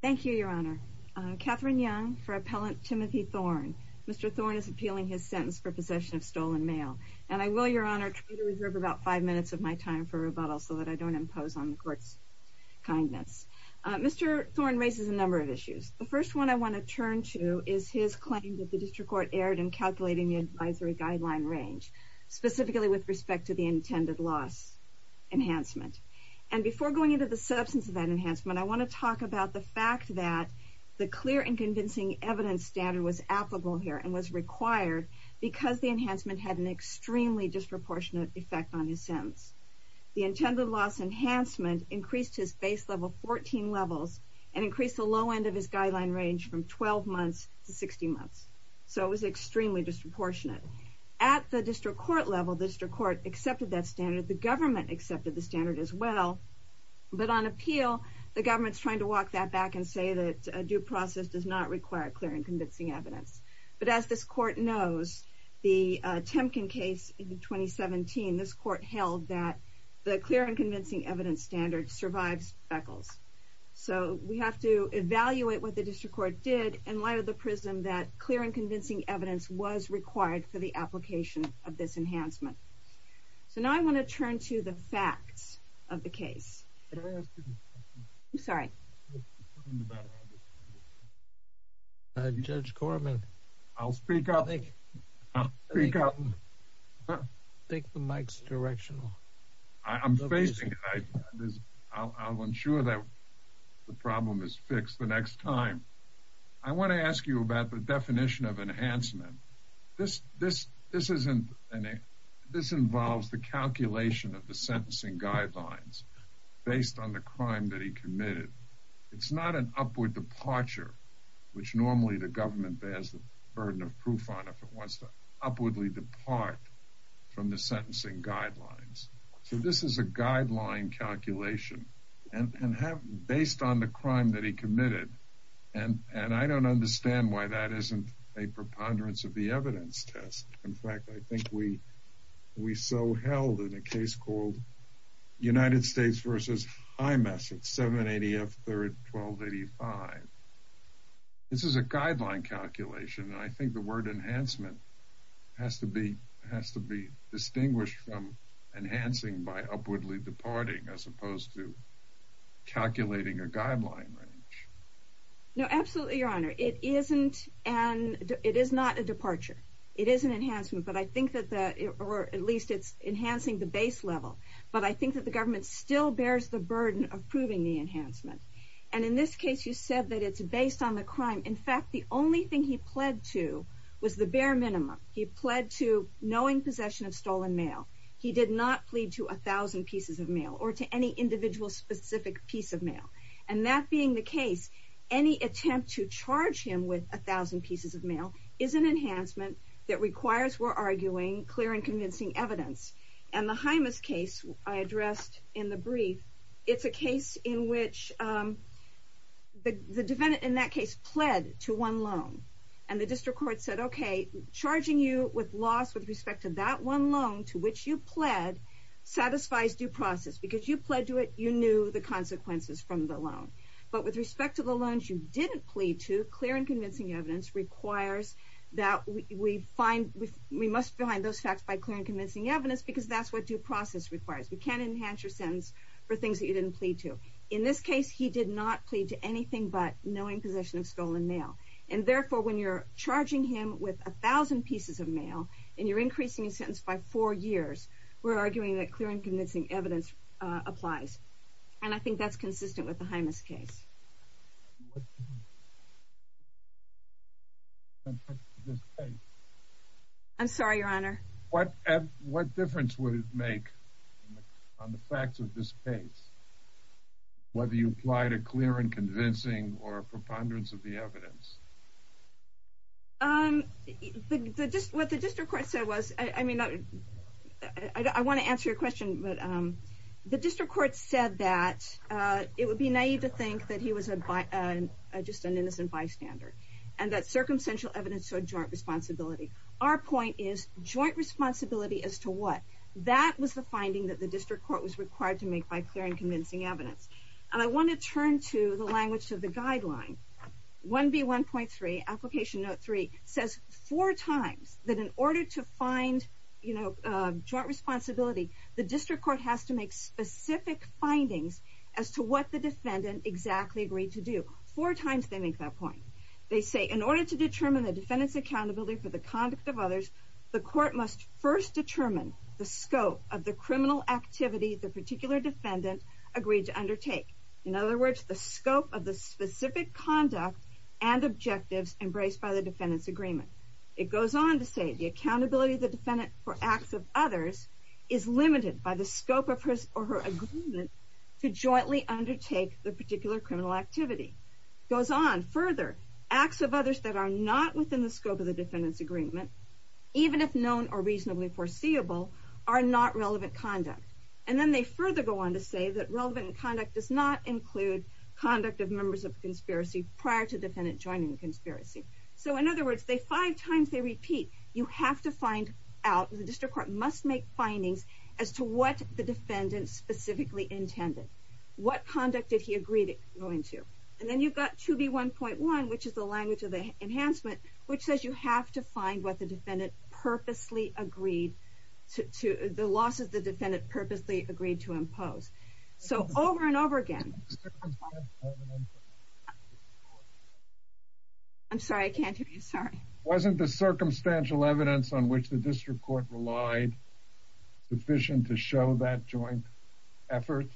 Thank you, Your Honor. Catherine Young for Appellant Timothy Thorne. Mr. Thorne is appealing his sentence for possession of stolen mail. And I will, Your Honor, try to reserve about five minutes of my time for rebuttal so that I don't impose on the Court's kindness. Mr. Thorne raises a number of issues. The first one I want to turn to is his claim that the District Court erred in calculating the advisory guideline range, specifically with respect to the intended loss enhancement. And before going into the substance of that fact, the clear and convincing evidence standard was applicable here and was required because the enhancement had an extremely disproportionate effect on his sentence. The intended loss enhancement increased his base level 14 levels and increased the low end of his guideline range from 12 months to 60 months. So it was extremely disproportionate. At the District Court level, the District Court accepted that standard. The government accepted the standard as well. But on appeal, the government is trying to walk that back and say that due process does not require clear and convincing evidence. But as this Court knows, the Temkin case in 2017, this Court held that the clear and convincing evidence standard survives fecals. So we have to evaluate what the District Court did and lay the prism that clear and convincing evidence was required for the application of this enhancement. So now I want to turn to the facts of the case. I'm sorry. Judge Corman, I'll speak up. Take the mic's directional. I'm facing it. I'll ensure that the problem is fixed the next time. I want to ask you about the definition of enhancement. This involves the calculation of the sentencing guidelines based on the crime that he committed. It's not an upward departure, which normally the government bears the burden of proof on if it wants to upwardly depart from the sentencing guidelines. So this is a guideline calculation based on the crime that he committed. I don't know why that isn't a preponderance of the evidence test. In fact, I think we we so held in a case called United States versus IMS at 780 F 3rd 1285. This is a guideline calculation, and I think the word enhancement has to be has to be distinguished from enhancing by upwardly departing as opposed to calculating a guideline. No, absolutely, Your Honor. It isn't, and it is not a departure. It is an enhancement, but I think that the or at least it's enhancing the base level. But I think that the government still bears the burden of proving the enhancement. And in this case, you said that it's based on the crime. In fact, the only thing he pled to was the bare minimum. He pled to knowing possession of stolen mail. He did not plead to 1000 pieces of mail or to any individual specific piece of mail. And that being the case, any attempt to charge him with 1000 pieces of mail is an enhancement that requires we're arguing clear and convincing evidence. And the Hymas case I addressed in the brief. It's a case in which the defendant in that case pled to one loan, and the district court said, Okay, charging you with loss with respect to that one loan to which you pled satisfies due process because you pled to it, you knew the consequences from the loan. But with respect to the loans you didn't plead to clear and convincing evidence requires that we find we must find those facts by clear and convincing evidence because that's what due process requires. We can't enhance your sentence for things that you didn't plead to. In this case, he did not plead to anything but knowing possession of stolen mail. And therefore, when you're charging him with 1000 pieces of mail, and you're increasing a sentence by four years, we're arguing that clear and convincing evidence applies. And I think that's consistent with the Hymas case. I'm sorry, Your Honor, what, what difference would it make on the facts of this case? Whether you apply to clear and convincing or preponderance of the evidence? Um, the just what the district court said was, I mean, I want to answer your question. But the district court said that it would be naive to think that he was a by just an innocent bystander, and that circumstantial evidence to a joint responsibility. Our point is joint responsibility as to what that was the finding that the district court was required to make by clear and convincing evidence. And I want to turn to the language of the guideline. 1b 1.3 application note three says four times that in order to find, you know, joint responsibility, the district court has to make specific findings as to what the defendant exactly agreed to do. Four times they make that point. They say in order to determine the defendant's accountability for the conduct of others, the court must first determine the scope of the criminal activity the particular defendant agreed to undertake. In other words, the scope of the specific conduct and objectives embraced by the defendant's agreement. It goes on to say the accountability of the defendant for acts of others is limited by the scope of his or her agreement to jointly undertake the particular criminal activity. Goes on further, acts of others that are not within the scope of the defendant's agreement, even if known or reasonably foreseeable, are not relevant conduct. And then they further go on to say that relevant conduct does not include conduct of members of conspiracy prior to defendant joining the conspiracy. So in other words, they five times they repeat, you have to find out the district court must make findings as to what the defendant specifically intended. What conduct did he agree to go into? And then you've got 2b 1.1, which is the language of the enhancement, which says you have to find what the defendant purposely agreed to the loss of the agreed to impose. So over and over again, I'm sorry, I can't hear you. Sorry. Wasn't the circumstantial evidence on which the district court relied sufficient to show that joint effort,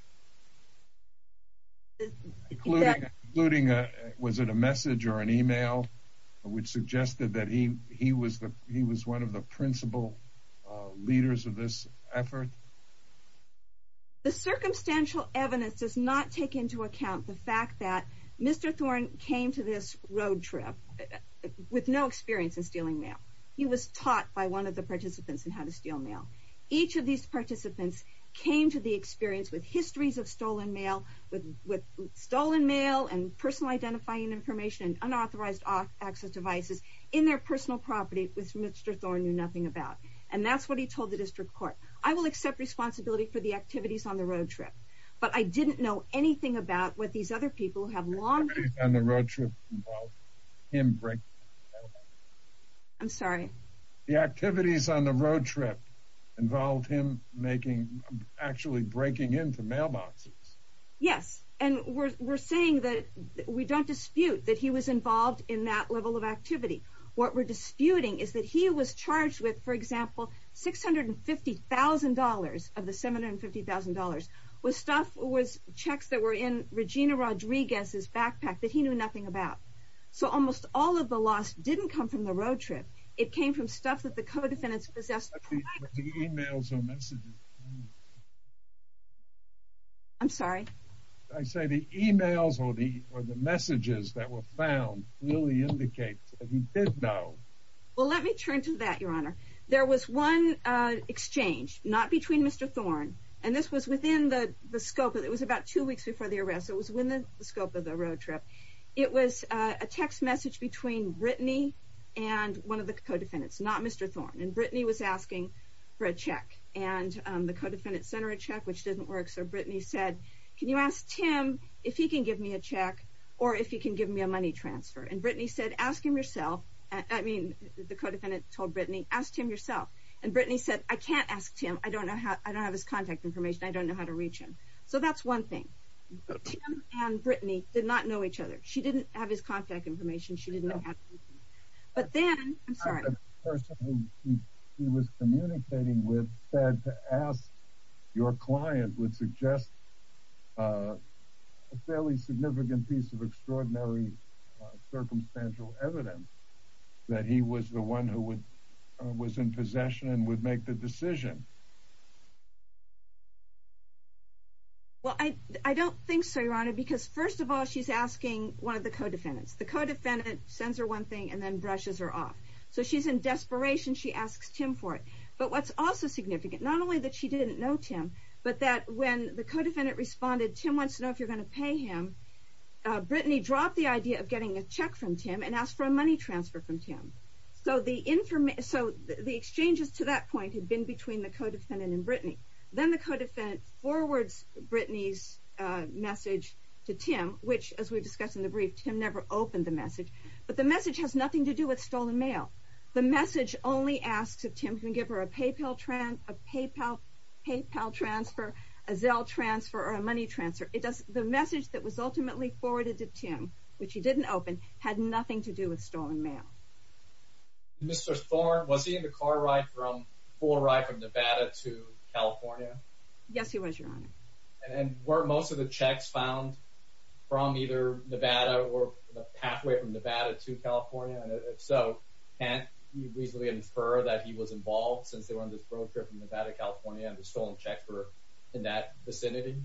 including was it a message or an email which suggested that he was one of the principal leaders of this effort? The circumstantial evidence does not take into account the fact that Mr. Thorne came to this road trip with no experience in stealing mail. He was taught by one of the participants in how to steal mail. Each of these participants came to the experience with histories of stolen mail, with stolen mail and personal identifying information, unauthorized access devices in their personal property with Mr. Thorne knew nothing about. And that's what he told the district court. I will accept responsibility for the activities on the road trip. But I didn't know anything about what these other people have long on the road trip. I'm sorry, the activities on the road trip involved him making actually breaking into mailboxes. Yes. And we're saying that we don't know anything about the actual activity. What we're disputing is that he was charged with, for example, $650,000 of the $750,000 with stuff was checks that were in Regina Rodriguez's backpack that he knew nothing about. So almost all of the loss didn't come from the road trip. It came from the fact that he didn't know. Well, let me turn to that, Your Honor. There was one exchange, not between Mr. Thorne. And this was within the scope. It was about two weeks before the arrest. It was within the scope of the road trip. It was a text message between Brittany and one of the co-defendants, not Mr. Thorne. And Brittany was asking for a check. And the co-defendant sent her a check, which didn't work. So Brittany said, can you ask Tim if he can give me a check or if he can give me a money transfer? And Brittany said, ask him yourself. I mean, the co-defendant told Brittany, ask him yourself. And Brittany said, I can't ask Tim. I don't know how. I don't have his contact information. I don't know how to reach him. So that's one thing. Tim and Brittany did not know each other. She didn't have his contact information. She didn't have anything. But then, I'm sorry. The person who he was communicating with said to ask your client would suggest a fairly significant piece of extraordinary circumstantial evidence that he was the one who was in possession and would make the decision. Well, I don't think so, Your Honor, because first of all, she's asking one of the co-defendants. The co-defendant sends her one thing and then brushes her off. So she's in desperation. She asks Tim for it. But what's also significant, not only that she didn't know Tim, but that when the co-defendant responded, Tim wants to know if you're going to pay him, Brittany dropped the idea of getting a check from Tim and asked for a money transfer from Tim. So the exchanges to that point had been between the co-defendants. Then the co-defendant forwards Brittany's message to Tim, which, as we discussed in the brief, Tim never opened the message. But the message has nothing to do with stolen mail. The message only asks if Tim can give her a PayPal transfer, a Zelle transfer, or a money transfer. The message that was ultimately forwarded to Tim, which he didn't open, had nothing to do with stolen mail. Mr. Thorne, was he in the car ride from Nevada to California? Yes, he was, Your Honor. And were most of the checks found from either Nevada or halfway from Nevada to California? And if so, can you reasonably infer that he was involved since they were on this road trip from Nevada to California and had stolen checks in that vicinity?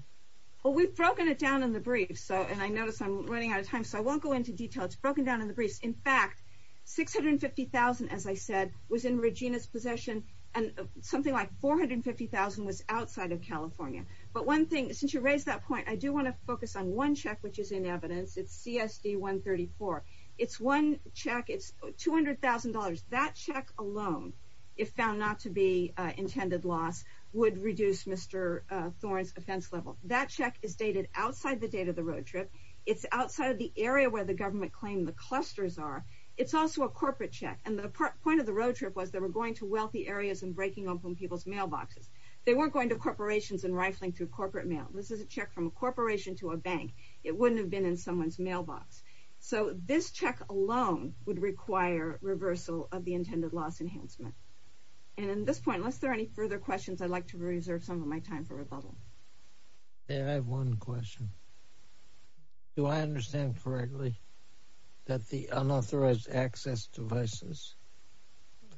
Well, we've broken it down in the brief, and I notice I'm running out of time, so I won't go into detail. It's broken down in the brief. In fact, $650,000, as I said, was in Regina's possession, and something like $450,000 was outside of California. But one thing, since you raised that point, I do want to focus on one check, which is in evidence. It's CSD-134. It's one check. It's $200,000. That check alone, if found not to be intended loss, would reduce Mr. Thorne's offense level. That check is dated outside the date of the road trip. It's outside of the area where the government claimed the clusters are. It's also a corporate check, and the point of the road trip was they were going to wealthy areas and breaking open people's mailboxes. They weren't going to corporations and rifling through corporate mail. This is a check from a corporation to a bank. It wouldn't have been in someone's mailbox. So, this check alone would require reversal of the intended loss enhancement. And at this point, unless there are any further questions, I'd like to reserve some of my time for rebuttal. I have one question. Do I understand correctly that the unauthorized access devices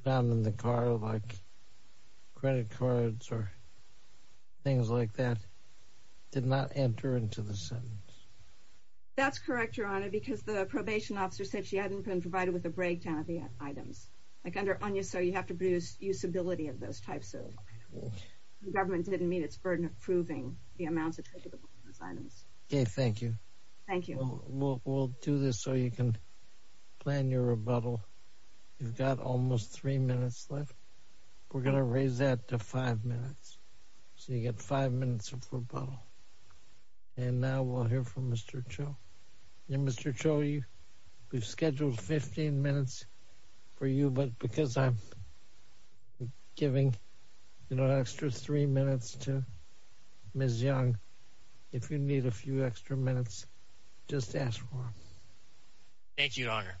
found in the car, like credit cards or things like that, did not enter into the sentence? That's correct, Your Honor, because the probation officer said she hadn't been provided with a breakdown of the items. Like, under ONUSO, you have to produce usability of those types of items. The government didn't meet its burden of proving the amounts attributable to those items. Okay, thank you. We'll do this so you can plan your rebuttal. You've got almost three minutes left. We're going to raise that to five minutes, so you get five minutes of rebuttal. And now we'll hear from Mr. Cho. And Mr. Cho, we've scheduled 15 minutes for you, but because I'm giving an extra three minutes to Ms. Young, if you need a few extra minutes, just ask for them. Thank you, Your Honor.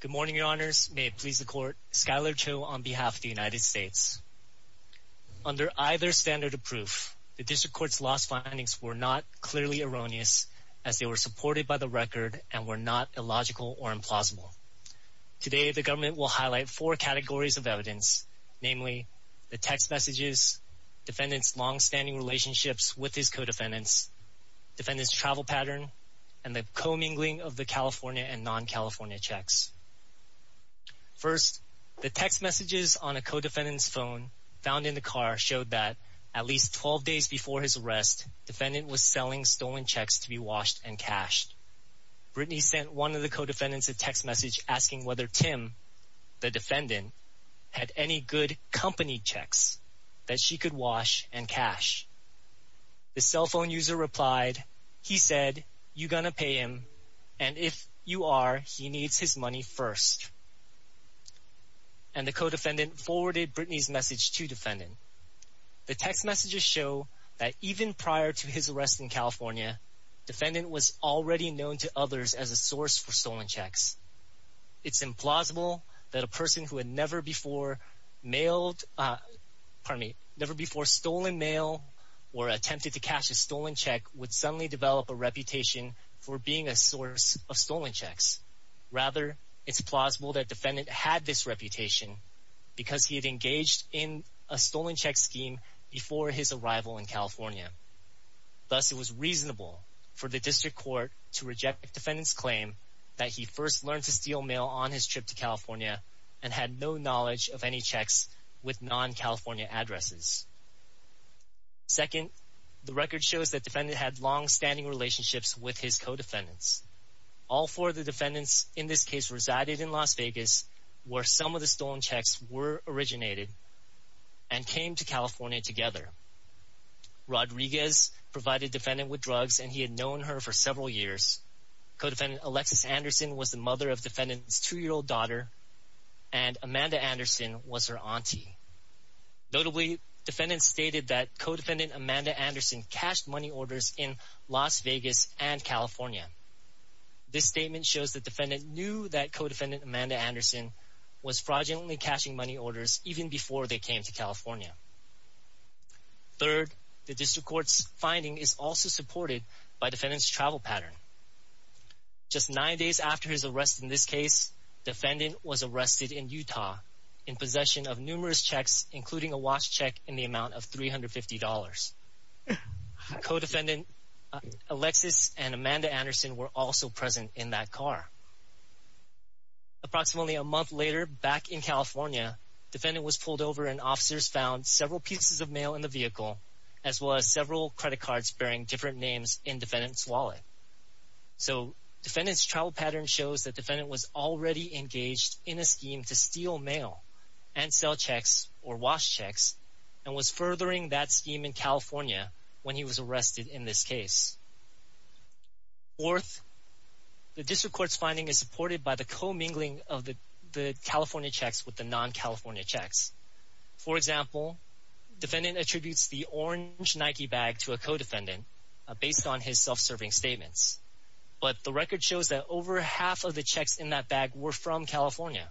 Good morning, Your Honors. May it please the Court, Skyler Cho on behalf of the United States. Under either standard of proof, the District Court's lost findings were not clearly erroneous, as they were supported by the record and were not illogical or implausible. Today, the government will highlight four categories of evidence, namely the text messages, defendants' longstanding relationships with his co-defendants, defendants' travel pattern, and the commingling of the California and non-California checks. First, the text messages on a co-defendant's phone found in the car showed that at least 12 days before his arrest, defendant was selling stolen checks to be washed and cashed. The cell phone user replied, he said, you gonna pay him, and if you are, he needs his money first. And the co-defendant forwarded Brittany's message to defendant. The text messages show that even prior to his arrest in California, defendant was already known to others as a source for stolen checks. It's implausible that a person who had never before mailed, pardon me, never before stolen mail or attempted to cash a stolen check would suddenly develop a reputation for being a source of stolen checks. Rather, it's plausible that defendant had this reputation because he had engaged in a stolen check scheme before his arrival in California. Thus, it was reasonable for the district court to reject defendant's claim that he first learned to steal mail on his trip to California and had no knowledge of any checks with non-California addresses. Second, the record shows that defendant had long-standing relationships with his co-defendants. All four of the defendants in this case resided in Las Vegas where some of the stolen checks were originated and came to California together. Rodriguez provided defendant with drugs and he had known her for several years. Co-defendant Alexis Anderson was the mother of defendant's two-year-old daughter and Amanda Anderson was her auntie. Notably, defendant stated that co-defendant Amanda Anderson cashed money orders in Las Vegas and California. This statement shows that defendant knew that co-defendant Amanda Anderson was fraudulently cashing money orders even before they came to California. Third, the district court's finding is also supported by defendant's travel pattern. Just nine days after his arrest in this case, defendant was arrested in Utah in possession of numerous checks including a watch check in the amount of $350. Co-defendant Alexis and Amanda Anderson were also present in that car. Approximately a month later, back in California, defendant was pulled over and officers found several pieces of mail in the vehicle as well as several credit cards bearing different names in defendant's wallet. So, defendant's travel pattern shows that defendant was already engaged in a scheme to steal mail and sell checks or watch checks and was furthering that scheme in California when he was arrested in this case. Fourth, the district court's finding is supported by the co-mingling of the California checks with the non-California checks. For example, defendant attributes the orange Nike bag to a co-defendant based on his self-serving statements. But the record shows that over half of the checks in that bag were from California,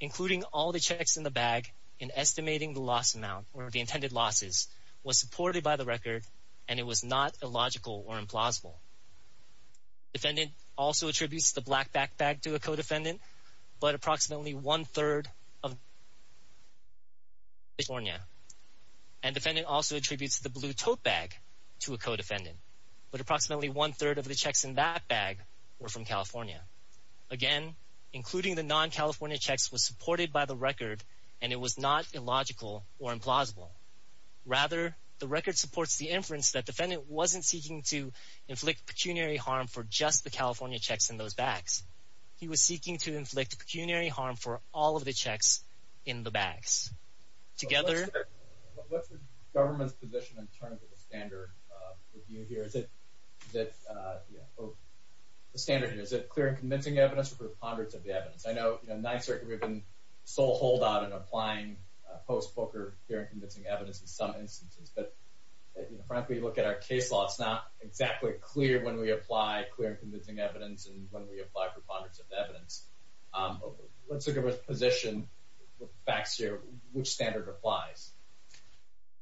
including all the checks in the bag and estimating the loss amount or the intended losses was supported by the record and it was not illogical or implausible. Defendant also attributes the black backpack to a co-defendant, but approximately one-third of the checks in that bag were from California. Again, including the non-California checks was supported by the record and it was not illogical or implausible. Rather, the record supports the inference that defendant wasn't seeking to inflict pecuniary harm for just the California checks in those bags. He was seeking to inflict pecuniary harm for all of the checks in the bags. What's the government's position in terms of the standard review here? Is it clear and convincing evidence or preponderance of evidence? I know in the Ninth Circuit we've been sole holdout in applying post-poker clear and convincing evidence in some instances, but frankly when you look at our case law, it's not exactly clear when we apply clear and convincing evidence and when we apply preponderance of evidence. What's the government's position with facts here? Which standard applies?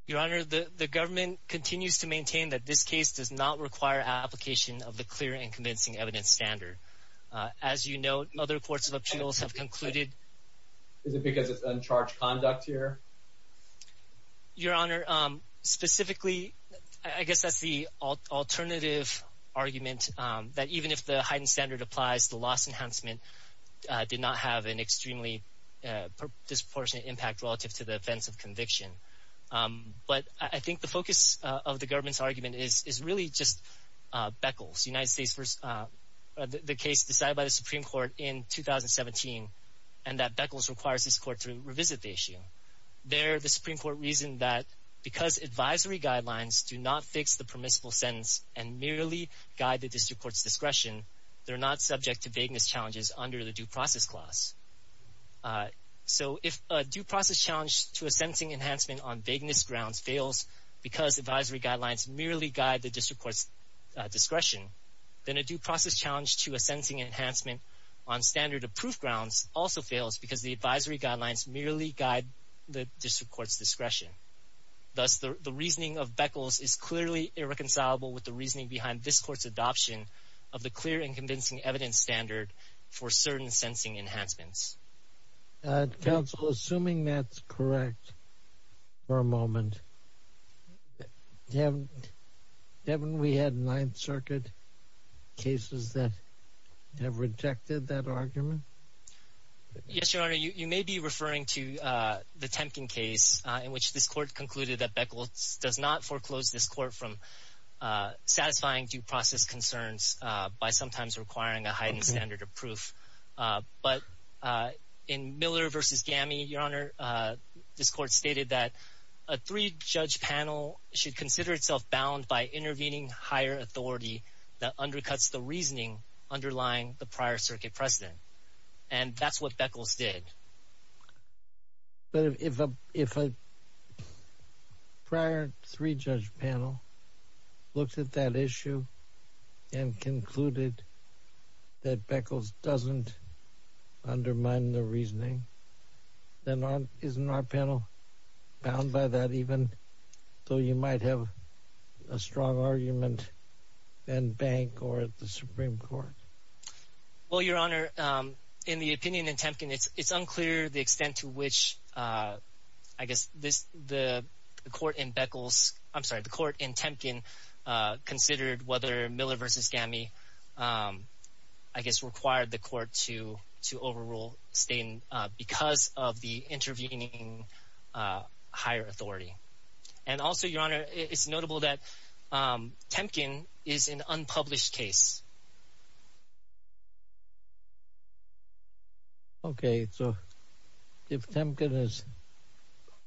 Your Honor, the government continues to maintain that this case does not require application of the clear and convincing evidence standard. As you note, other courts of appeals have concluded... Is it because it's uncharged conduct here? Your Honor, specifically, I guess that's the alternative argument that even if the heightened standard applies, the loss enhancement did not have an extremely disproportionate impact relative to the offense of conviction. But I think the focus of the government's argument is really just Beckles, the case decided by the Supreme Court in 2017 and that Beckles requires this court to revisit the issue. They're the Supreme Court reason that because advisory guidelines do not fix the permissible sentence and merely guide the district court's discretion, they're not subject to vagueness challenges under the due process clause. So if a due process challenge to a sentencing enhancement on vagueness grounds fails because advisory guidelines merely guide the district court's discretion, then a due process challenge to a sentencing enhancement on standard-approved grounds also fails because the advisory guidelines merely guide the district court's discretion. Thus, the reasoning of Beckles is clearly irreconcilable with the reasoning behind this court's adoption of the clear and convincing evidence standard for certain sentencing enhancements. Counsel, assuming that's correct for a moment, haven't we had Ninth Circuit cases that have rejected that argument? Yes, Your Honor. You may be referring to the Temkin case in which this court concluded that Beckles does not foreclose this court from satisfying due process concerns by sometimes requiring a heightened standard of proof. But in Miller v. Gammy, Your Honor, this court stated that a three-judge panel should consider itself bound by intervening higher authority that undercuts the reasoning underlying the prior circuit precedent. And that's what Beckles did. But if a prior three-judge panel looked at that issue and concluded that Beckles doesn't undermine the reasoning, then isn't our panel bound by that even though you might have a strong argument in Bank or at the Supreme Court? Well, Your Honor, in the opinion in Temkin, it's unclear the extent to which, I guess, the court in Beckles, I'm sorry, the court in Temkin considered whether Miller v. Gammy, I guess, required the court to overrule Staten because of the intervening higher authority. And also, Your Honor, it's notable that Temkin is an unpublished case. Okay. So if Temkin is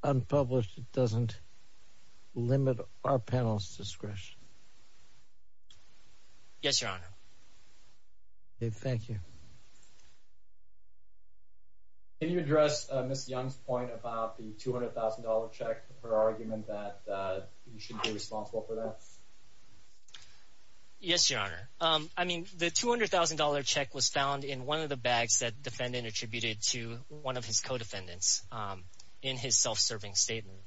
unpublished, it doesn't limit our panel's discretion. Yes, Your Honor. Okay. Thank you. Can you address Ms. Young's point about the $200,000 check, her argument that you should be responsible for that? Yes, Your Honor. I mean, the $200,000 check was found in one of the bags that the defendant attributed to one of his co-defendants in his self-serving statement.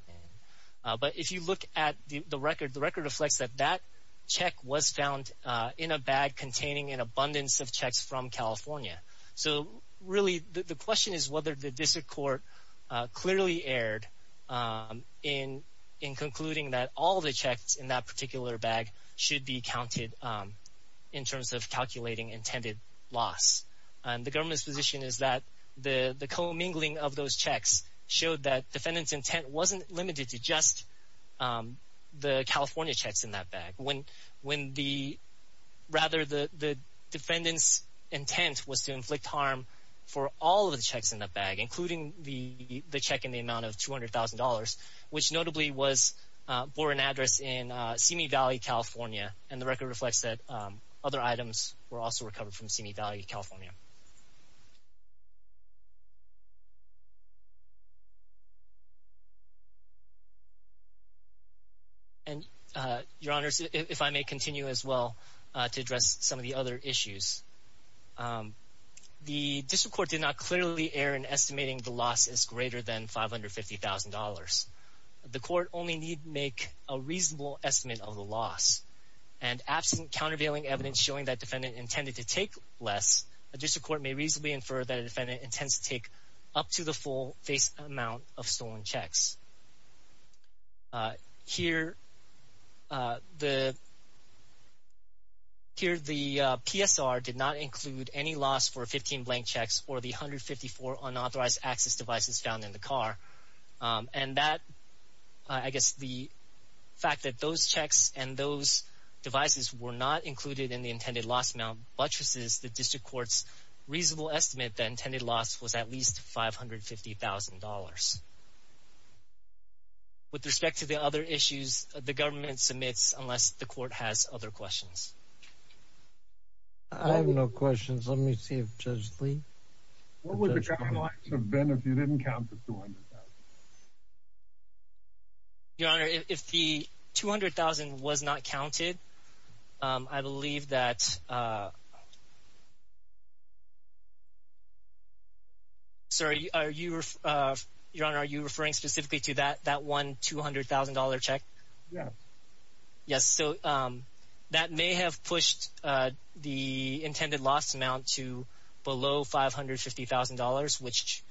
But if you look at the record, the record reflects that that check was found in a bag containing an abundance of checks from California. So really, the question is whether the district court clearly erred in concluding that all the checks in that particular bag should be counted in terms of calculating intended loss. And the government's position is that the co-mingling of those checks showed that defendant's intent wasn't limited to just the California checks in that bag. When the, rather, the defendant's intent was to inflict harm for all of the checks in that bag, including the check in the amount of $200,000, which notably bore an address in Simi Valley, California, and the record reflects that other items were also recovered from Simi Valley, California. And, Your Honor, if I may continue as well to address some of the other issues. The district court did not clearly err in estimating the loss as greater than $550,000. The court only need make a reasonable estimate of the loss. And absent countervailing evidence showing that defendant intended to take less, the district court may reasonably infer that a defendant intends to take up to the full face amount of stolen checks. Here, the PSR did not include any loss for 15 blank checks or the 154 unauthorized access devices found in the car. And that, I guess, the fact that those checks and those devices were not included in the intended loss amount buttresses, the district court's reasonable estimate that intended loss was at least $550,000. With respect to the other issues, the government submits unless the court has other questions. I have no questions. Let me see if Judge Lee. What would the guidelines have been if you didn't count the $200,000? Your Honor, if the $200,000 was not counted, I believe that... Sir, Your Honor, are you referring specifically to that $200,000 check? Yes. Yes, so that may have pushed the intended loss amount to below $550,000, which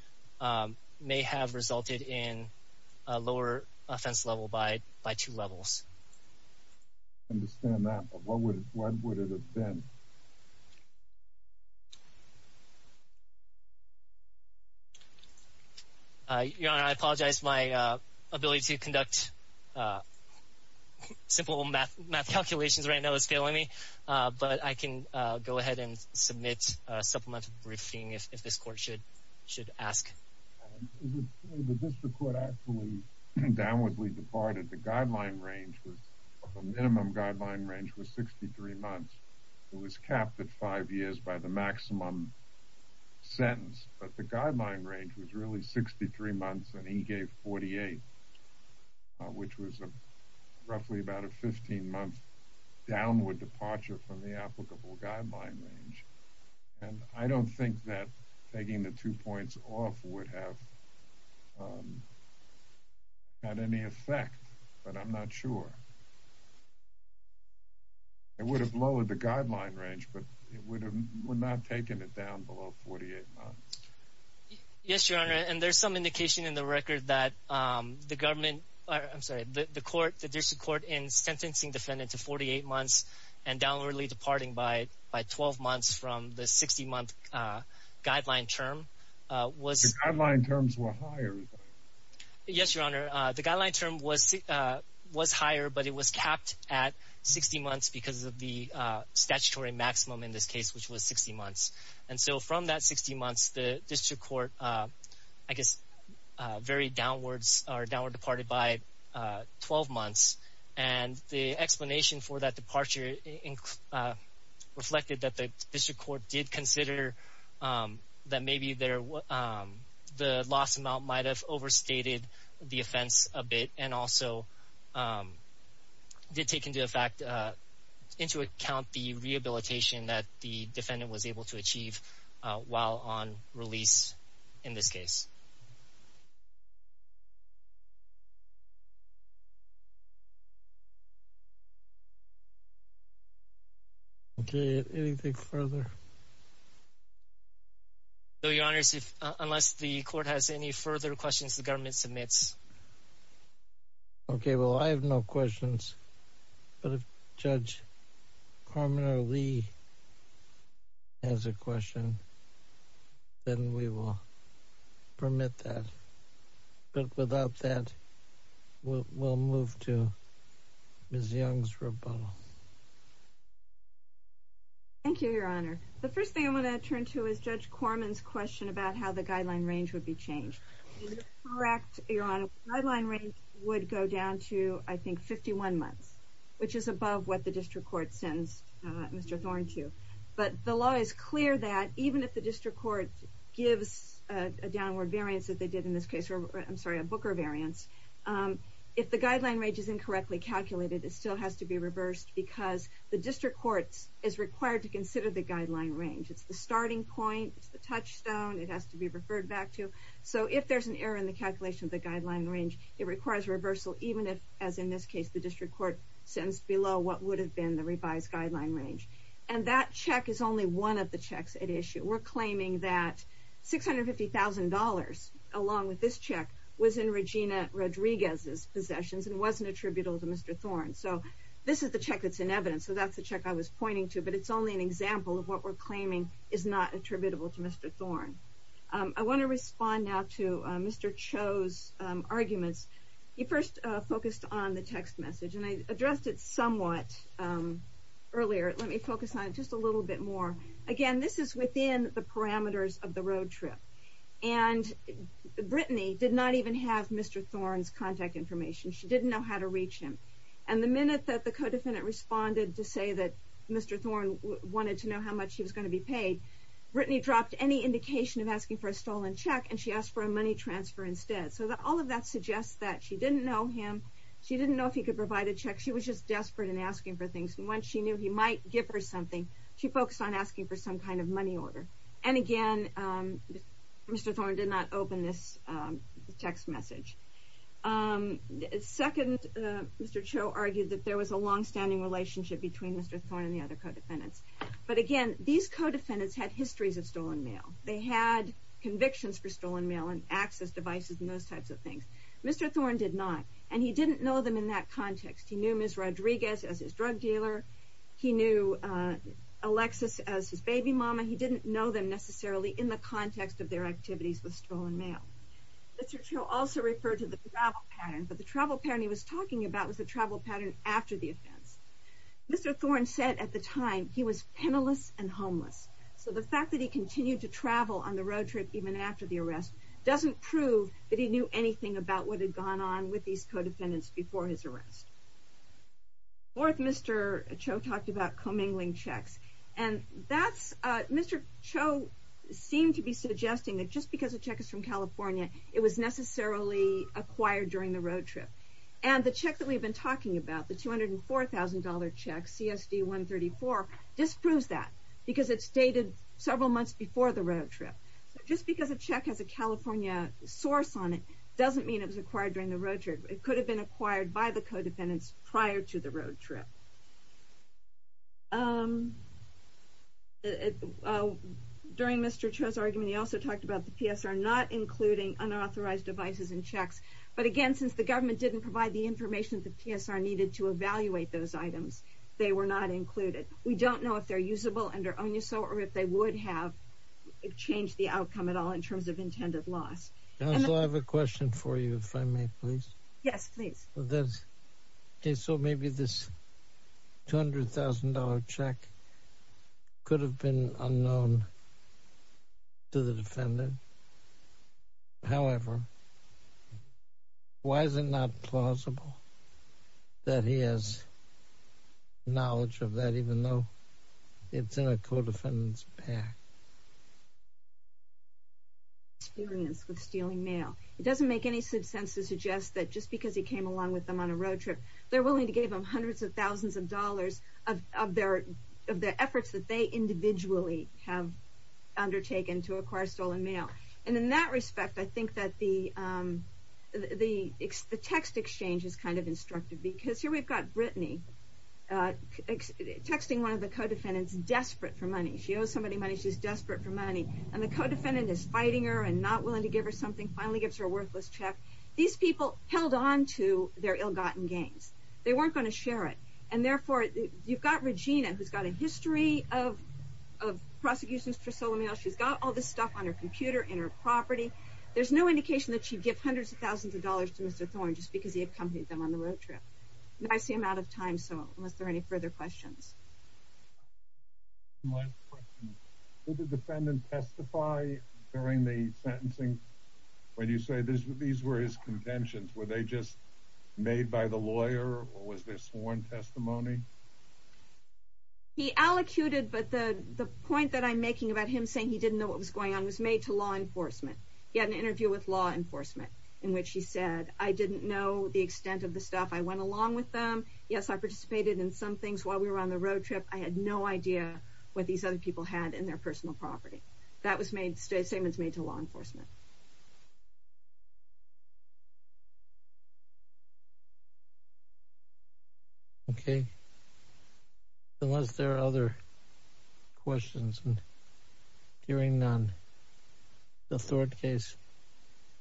may have resulted in a lower offense level by two levels. I understand that, but what would it have been? Your Honor, I apologize. My ability to conduct simple math calculations right now is failing me, but I can go ahead and submit a supplemental briefing if this court should ask. The district court actually downwardly departed. The guideline range, the minimum guideline range, was 63 months. It was capped at five years by the maximum sentence, but the guideline range was really 63 months, and he gave 48, which was roughly about a 15-month downward departure from the applicable guideline range. I don't think that taking the two points off would have had any effect, but I'm not sure. It would have lowered the guideline range, but it would not have taken it down below 48 months. Yes, Your Honor, and there's some indication in the record that the government, I'm sorry, the court, the district court in sentencing defendant to 48 months and downwardly departing by 12 months from the 60-month guideline term was... The guideline terms were higher. Yes, Your Honor. The guideline term was higher, but it was capped at 60 months because of the statutory maximum in this case, which was 60 months. And so from that 60 months, the district court, I guess, very downwards, or downward departed by 12 months. And the explanation for that departure reflected that the district court did consider that maybe the loss amount might have overstated the offense a bit and also did take into account the rehabilitation that the defendant was able to achieve while on release in this case. Okay, anything further? No, Your Honor, unless the court has any further questions, the government submits. Okay, well, I have no questions, but if Judge Carmen Lee has a question, then we will permit that. But without that, we'll move to Ms. Young's rebuttal. Thank you, Your Honor. The first thing I want to turn to is Judge Carmen's question about how the guideline range would be changed. You're correct, Your Honor. The guideline range would go down to, I think, 51 months, which is above what the district court sentenced Mr. Thorne to. But the law is clear that even if the district court gives a downward variance, as they did in this case, I'm sorry, a Booker variance, if the guideline range is incorrectly calculated, it still has to be reversed because the district court is required to consider the guideline range. It's the starting point, it's the touchstone, it has to be referred back to. So if there's an error in the calculation of the guideline range, it requires reversal, even if, as in this case, the district court sentenced below what would have been the revised guideline range. And that check is only one of the checks at issue. We're claiming that $650,000, along with this check, was in Regina Rodriguez's possessions and wasn't attributable to Mr. Thorne. So this is the check that's in evidence, so that's the check I was pointing to, but it's only an example of what we're claiming is not attributable to Mr. Thorne. I want to respond now to Mr. Cho's arguments. He first focused on the text message, and I addressed it somewhat earlier. Let me focus on it just a little bit more. Again, this is within the parameters of the road trip. And Brittany did not even have Mr. Thorne's contact information. She didn't know how to reach him. And the minute that the co-defendant responded to say that Mr. Thorne wanted to know how much he was going to be paid, Brittany dropped any indication of asking for a stolen check, and she asked for a money transfer instead. So all of that suggests that she didn't know him, she didn't know if he could provide a check, she was just desperate and asking for things. And when she knew he might give her something, she focused on asking for some kind of money order. And again, Mr. Thorne did not open this text message. Second, Mr. Cho argued that there was a longstanding relationship between Mr. Thorne and the other co-defendants. But again, these co-defendants had histories of stolen mail. They had convictions for stolen mail and access devices and those types of things. Mr. Thorne did not, and he didn't know them in that context. He knew Ms. Rodriguez as his drug dealer. He knew Alexis as his baby mama. He didn't know them necessarily in the context of their activities with stolen mail. Mr. Cho also referred to the travel pattern, but the travel pattern he was talking about was the travel pattern after the offense. Mr. Thorne said at the time he was penniless and homeless. So the fact that he continued to travel on the road trip even after the arrest doesn't prove that he knew anything about what had gone on with these co-defendants before his arrest. Fourth, Mr. Cho talked about commingling checks. And Mr. Cho seemed to be suggesting that just because a check is from California, it was necessarily acquired during the road trip. And the check that we've been talking about, the $204,000 check, CSD-134, disproves that because it's dated several months before the road trip. Just because a check has a California source on it doesn't mean it was acquired during the road trip. It could have been acquired by the co-defendants prior to the road trip. During Mr. Cho's argument, he also talked about the PSR not including unauthorized devices and checks. But again, since the government didn't provide the information that the PSR needed to evaluate those items, they were not included. We don't know if they're usable under ONUSO or if they would have changed the outcome at all in terms of intended loss. Counsel, I have a question for you, if I may, please. Yes, please. So maybe this $200,000 check could have been unknown to the defendant. However, why is it not plausible that he has knowledge of that, even though it's in a co-defendant's pack? Experience with stealing mail. It doesn't make any sense to suggest that just because he came along with them on a road trip, they're willing to give him hundreds of thousands of dollars of their efforts that they individually have undertaken to acquire stolen mail. And in that respect, I think that the text exchange is kind of instructive, because here we've got Brittany texting one of the co-defendants desperate for money. She owes somebody money. She's desperate for money. And the co-defendant is fighting her and not willing to give her something, finally gives her a worthless check. These people held on to their ill-gotten gains. They weren't going to share it. And therefore, you've got Regina, who's got a history of prosecutions for stolen mail. She's got all this stuff on her computer, in her property. There's no indication that she'd give hundreds of thousands of dollars to Mr. Thorne just because he accompanied them on the road trip. I see I'm out of time, so unless there are any further questions. One last question. Did the defendant testify during the sentencing? When you say these were his contentions, were they just made by the lawyer, or was there sworn testimony? He allocuted, but the point that I'm making about him saying he didn't know what was going on was made to law enforcement. He had an interview with law enforcement in which he said, I didn't know the extent of the stuff. I went along with them. Yes, I participated in some things while we were on the road trip. I had no idea what these other people had in their personal property. That statement was made to law enforcement. Okay. Unless there are other questions, and hearing none, the Thorne case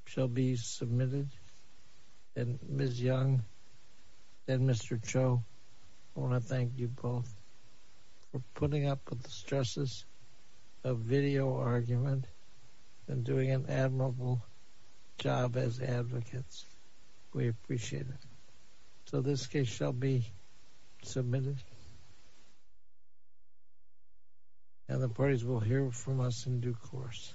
shall be submitted. Ms. Young and Mr. Cho, I want to thank you both for putting up with the stresses of video argument and doing an admirable job as advocates. We appreciate it. So this case shall be submitted. And the parties will hear from us in due course.